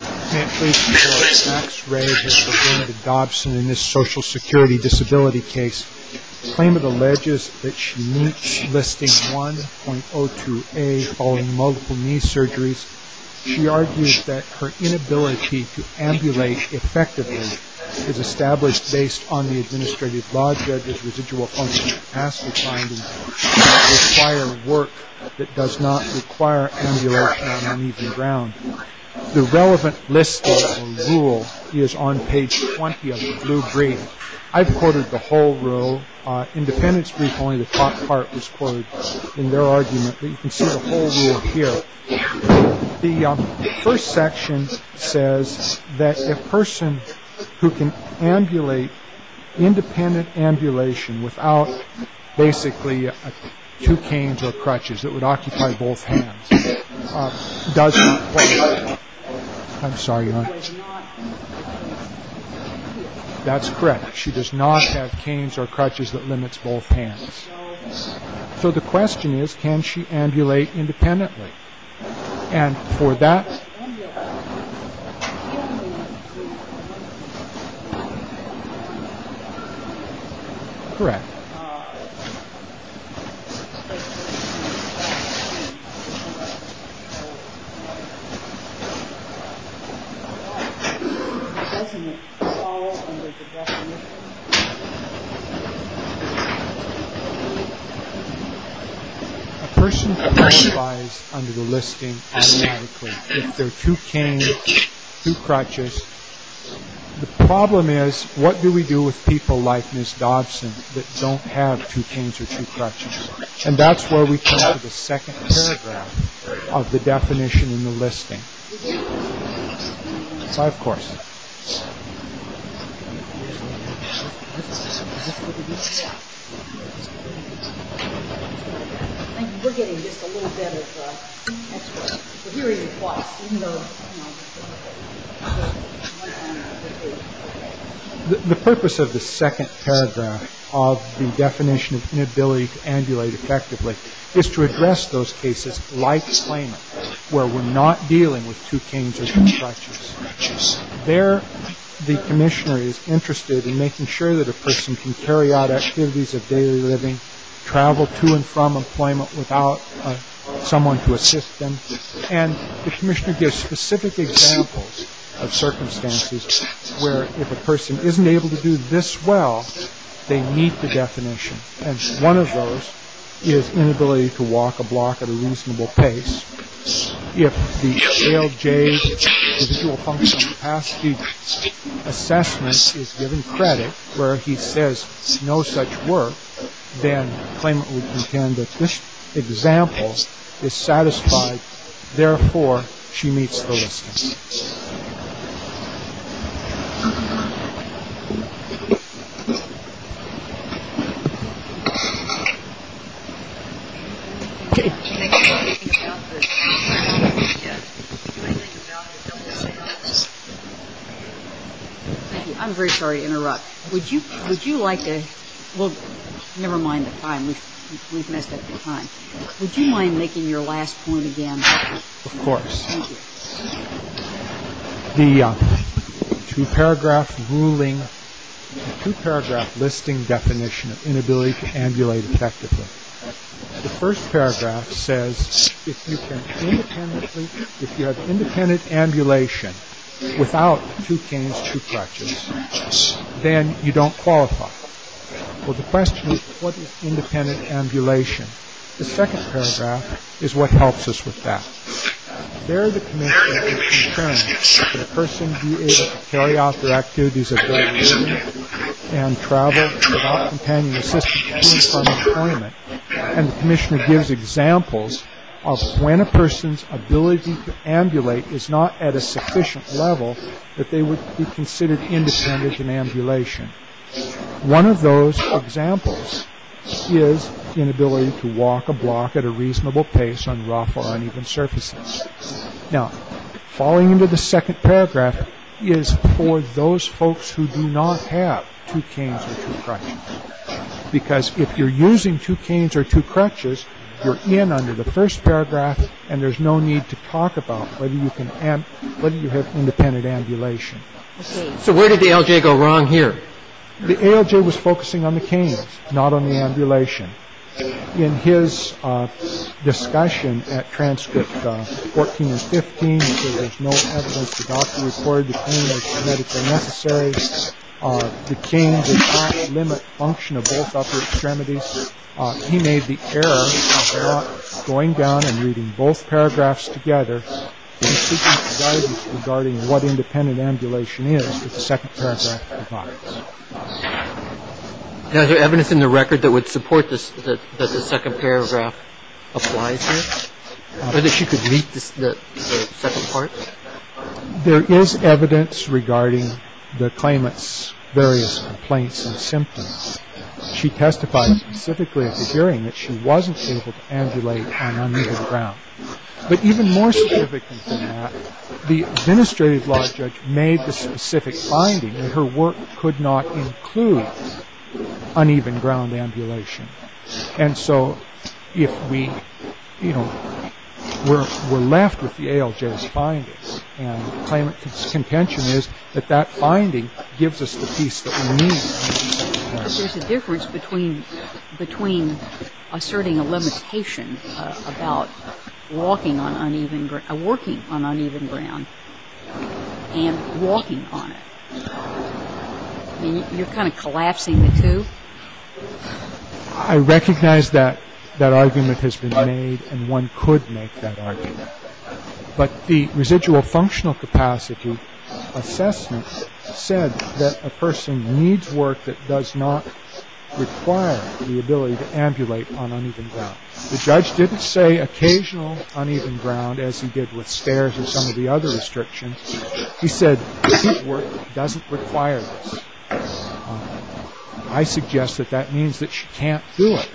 I can't please inform you that Max Ray has defended Dobson in this social security disability case. The claim alleges that she meets Listing 1.02a following multiple knee surgeries. She argues that her inability to ambulate effectively is established based on the Administrative Law Judge's residual function in past defindings and requires work that does not require ambulation on uneven ground. The relevant listing rule is on page 20 of the blue brief. I've quoted the whole rule. In the defendant's brief, only the top part was quoted in their argument, but you can see the whole rule here. The first section says that a person who can ambulate independent ambulation without basically two canes or crutches that would occupy both hands does not have canes or crutches that limits both hands. So the question is, can she ambulate independently? And for that... If there are two canes, two crutches, the problem is, what do we do with people like Ms. Dobson that don't have two canes or two crutches? And that's where we come to the second paragraph of the definition in the listing. I, of course... The purpose of the second paragraph of the definition of inability to ambulate effectively is to address those cases like claimant where we're not dealing with two canes or two crutches. There, the commissioner is interested in making sure that a person can carry out activities of daily living, travel to and from employment without someone to assist them, and the commissioner gives specific examples of circumstances where if a person isn't able to do this well, they meet the definition. And one of those is inability to walk a block at a reasonable pace. If the ALJ individual functional capacity assessment is given credit where he says no such work, then claimant would contend that this example is satisfied. Therefore, she meets the listing. I'm very sorry to interrupt. Would you like to... Never mind the time. We've messed up the time. Would you mind making your last point again? Thank you. The two-paragraph ruling, the two-paragraph listing definition of inability to ambulate effectively, the first paragraph says if you can independently, if you have independent ambulation without two canes, two crutches, then you don't qualify. Well, the question is, what is independent ambulation? The second paragraph is what helps us with that. There the commissioner concerns that a person be able to carry out their activities of daily living and travel to and from employment, and the commissioner gives examples of when a person's ability to ambulate is not at a sufficient level that they would be considered independent in ambulation. One of those examples is inability to walk a block at a reasonable pace on rough or uneven surfaces. Now, falling into the second paragraph is for those folks who do not have two canes or two crutches, because if you're using two canes or two crutches, you're in under the first paragraph, and there's no need to talk about whether you have independent ambulation. So where did the ALJ go wrong here? The ALJ was focusing on the canes, not on the ambulation. In his discussion at transcript 14 and 15, he said there's no evidence to docu record the canes as medically necessary. The canes did not limit function of both upper extremities. He made the error of going down and reading both paragraphs together and seeking guidance regarding what independent ambulation is that the second paragraph provides. Now, is there evidence in the record that would support this, that the second paragraph applies here, or that she could meet the second part? There is evidence regarding the claimant's various complaints and symptoms. She testified specifically at the hearing that she wasn't able to ambulate on uneven ground. But even more significant than that, the administrative law judge made the specific finding that her work could not include uneven ground ambulation. And so if we, you know, were left with the ALJ's findings, and the claimant's contention is that that finding gives us the piece that we need. But there's a difference between asserting a limitation about walking on uneven ground and walking on it. You're kind of collapsing the two. I recognize that that argument has been made, and one could make that argument. But the residual functional capacity assessment said that a person needs work that does not require the ability to ambulate on uneven ground. The judge didn't say occasional uneven ground, as he did with stairs or some of the other restrictions. He said work doesn't require this. I suggest that that means that she can't do it.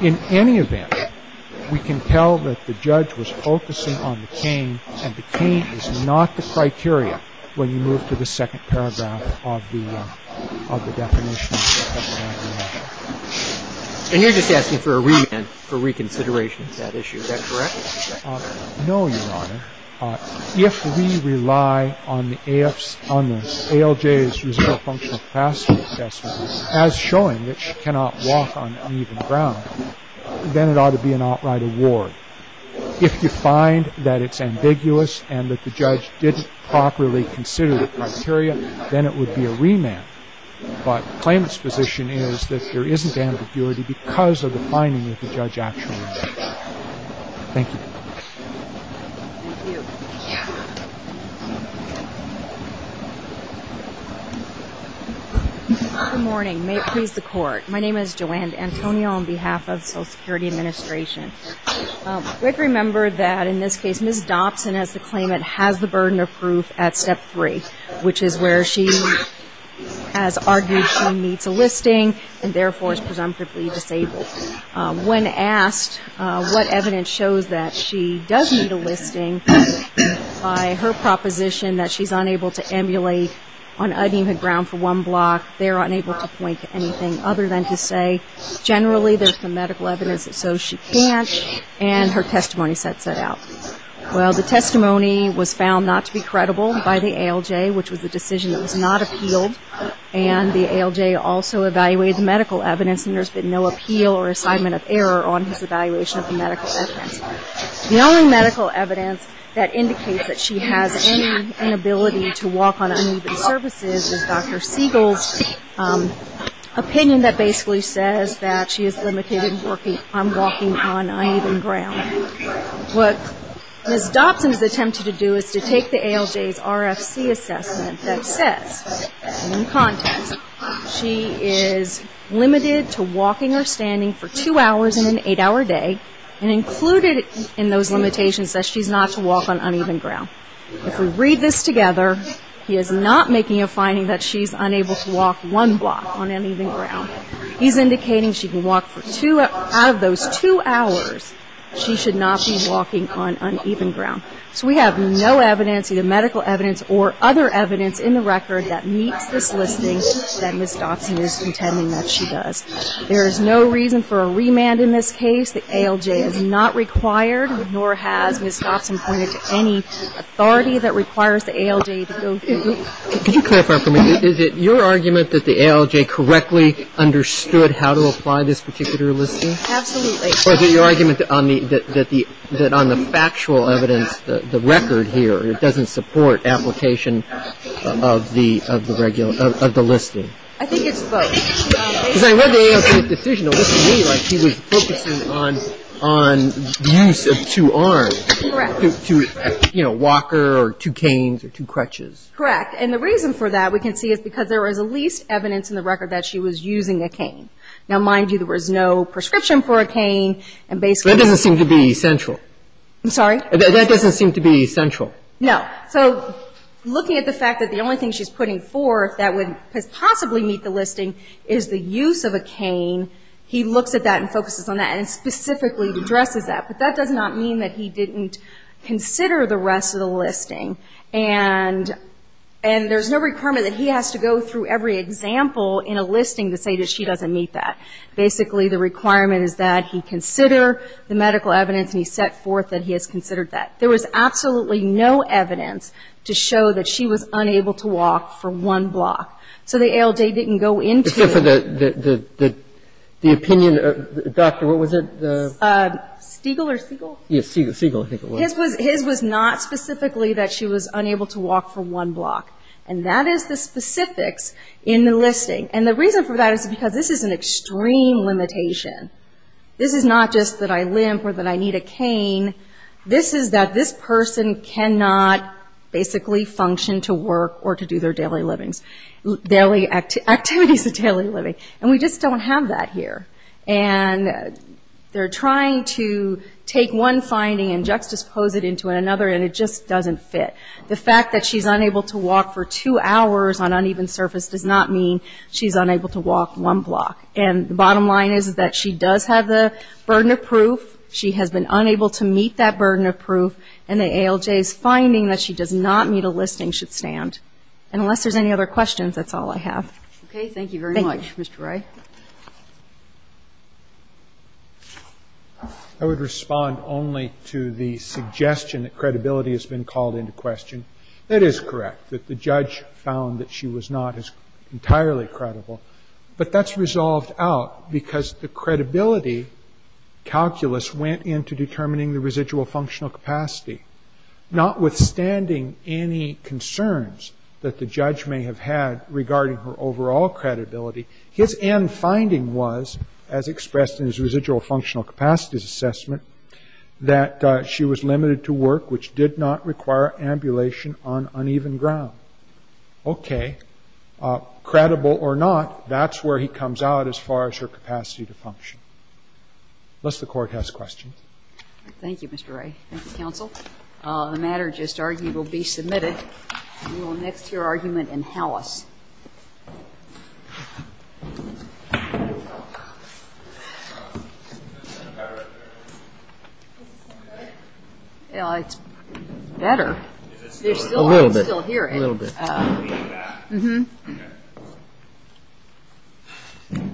In any event, we can tell that the judge was focusing on the cane, and the cane is not the criteria when you move to the second paragraph of the definition. And you're just asking for a remand, for reconsideration of that issue. Is that correct? No, Your Honor. If we rely on the ALJ's residual functional capacity assessment as showing that she cannot walk on uneven ground, then it ought to be an outright award. If you find that it's ambiguous and that the judge didn't properly consider the criteria, then it would be a remand. But the claimant's position is that there isn't ambiguity because of the finding that the judge actually did. Thank you. Good morning. May it please the Court. My name is Joanne D'Antonio on behalf of the Social Security Administration. We have to remember that in this case, Ms. Dobson, as the claimant, has the burden of proof at Step 3, which is where she has argued she meets a listing and therefore is presumptively disabled. When asked what evidence shows that she does meet a listing, by her proposition that she's unable to emulate on uneven ground for one block, they're unable to point to anything other than to say, generally there's some medical evidence that shows she can't, and her testimony sets it out. Well, the testimony was found not to be credible by the ALJ, which was a decision that was not appealed, and the ALJ also evaluated the medical evidence, and there's been no appeal or assignment of error on his evaluation of the medical evidence. The only medical evidence that indicates that she has any inability to walk on uneven surfaces is Dr. Siegel's opinion that basically says that she is limited in walking on uneven ground. What Ms. Dobson has attempted to do is to take the ALJ's RFC assessment that says, in context, she is limited to walking or standing for two hours in an eight-hour day, and included in those limitations says she's not to walk on uneven ground. If we read this together, he is not making a finding that she's unable to walk one block on uneven ground. He's indicating she can walk for two out of those two hours. She should not be walking on uneven ground. So we have no evidence, either medical evidence or other evidence, in the record that meets this listing that Ms. Dobson is contending that she does. There is no reason for a remand in this case. The ALJ is not required, nor has Ms. Dobson pointed to any authority that requires the ALJ to go through. Could you clarify for me, is it your argument that the ALJ correctly understood how to apply this particular listing? Absolutely. Or is it your argument that on the factual evidence, the record here, it doesn't support application of the listing? I think it's both. Because I read the ALJ's decision, it looks to me like she was focusing on use of two arms. Correct. You know, a walker or two canes or two crutches. Correct. And the reason for that we can see is because there is the least evidence in the record that she was using a cane. Now, mind you, there was no prescription for a cane. That doesn't seem to be central. I'm sorry? That doesn't seem to be central. No. So looking at the fact that the only thing she's putting forth that would possibly meet the listing is the use of a cane, he looks at that and focuses on that and specifically addresses that. And there's no requirement that he has to go through every example in a listing to say that she doesn't meet that. Basically, the requirement is that he consider the medical evidence and he set forth that he has considered that. There was absolutely no evidence to show that she was unable to walk for one block. So the ALJ didn't go into it. Except for the opinion of the doctor. What was it? Stiegel or Siegel? Siegel. Siegel, I think it was. His was not specifically that she was unable to walk for one block. And that is the specifics in the listing. And the reason for that is because this is an extreme limitation. This is not just that I limp or that I need a cane. This is that this person cannot basically function to work or to do their daily livings. Daily activities of daily living. And we just don't have that here. And they're trying to take one finding and juxtapose it into another and it just doesn't fit. The fact that she's unable to walk for two hours on uneven surface does not mean she's unable to walk one block. And the bottom line is that she does have the burden of proof. She has been unable to meet that burden of proof. And the ALJ's finding that she does not meet a listing should stand. Unless there's any other questions, that's all I have. Okay. Thank you very much, Mr. Wright. I would respond only to the suggestion that credibility has been called into question. That is correct, that the judge found that she was not entirely credible. But that's resolved out because the credibility calculus went into determining the residual functional capacity. Notwithstanding any concerns that the judge may have had regarding her overall credibility, his end finding was, as expressed in his residual functional capacities assessment, that she was limited to work which did not require ambulation on uneven ground. Okay. Credible or not, that's where he comes out as far as her capacity to function. Unless the Court has questions. Thank you, Mr. Wright. Counsel, the matter just argued will be submitted. We will next hear argument in house. It's better. A little bit. I can still hear it. A little bit. Okay.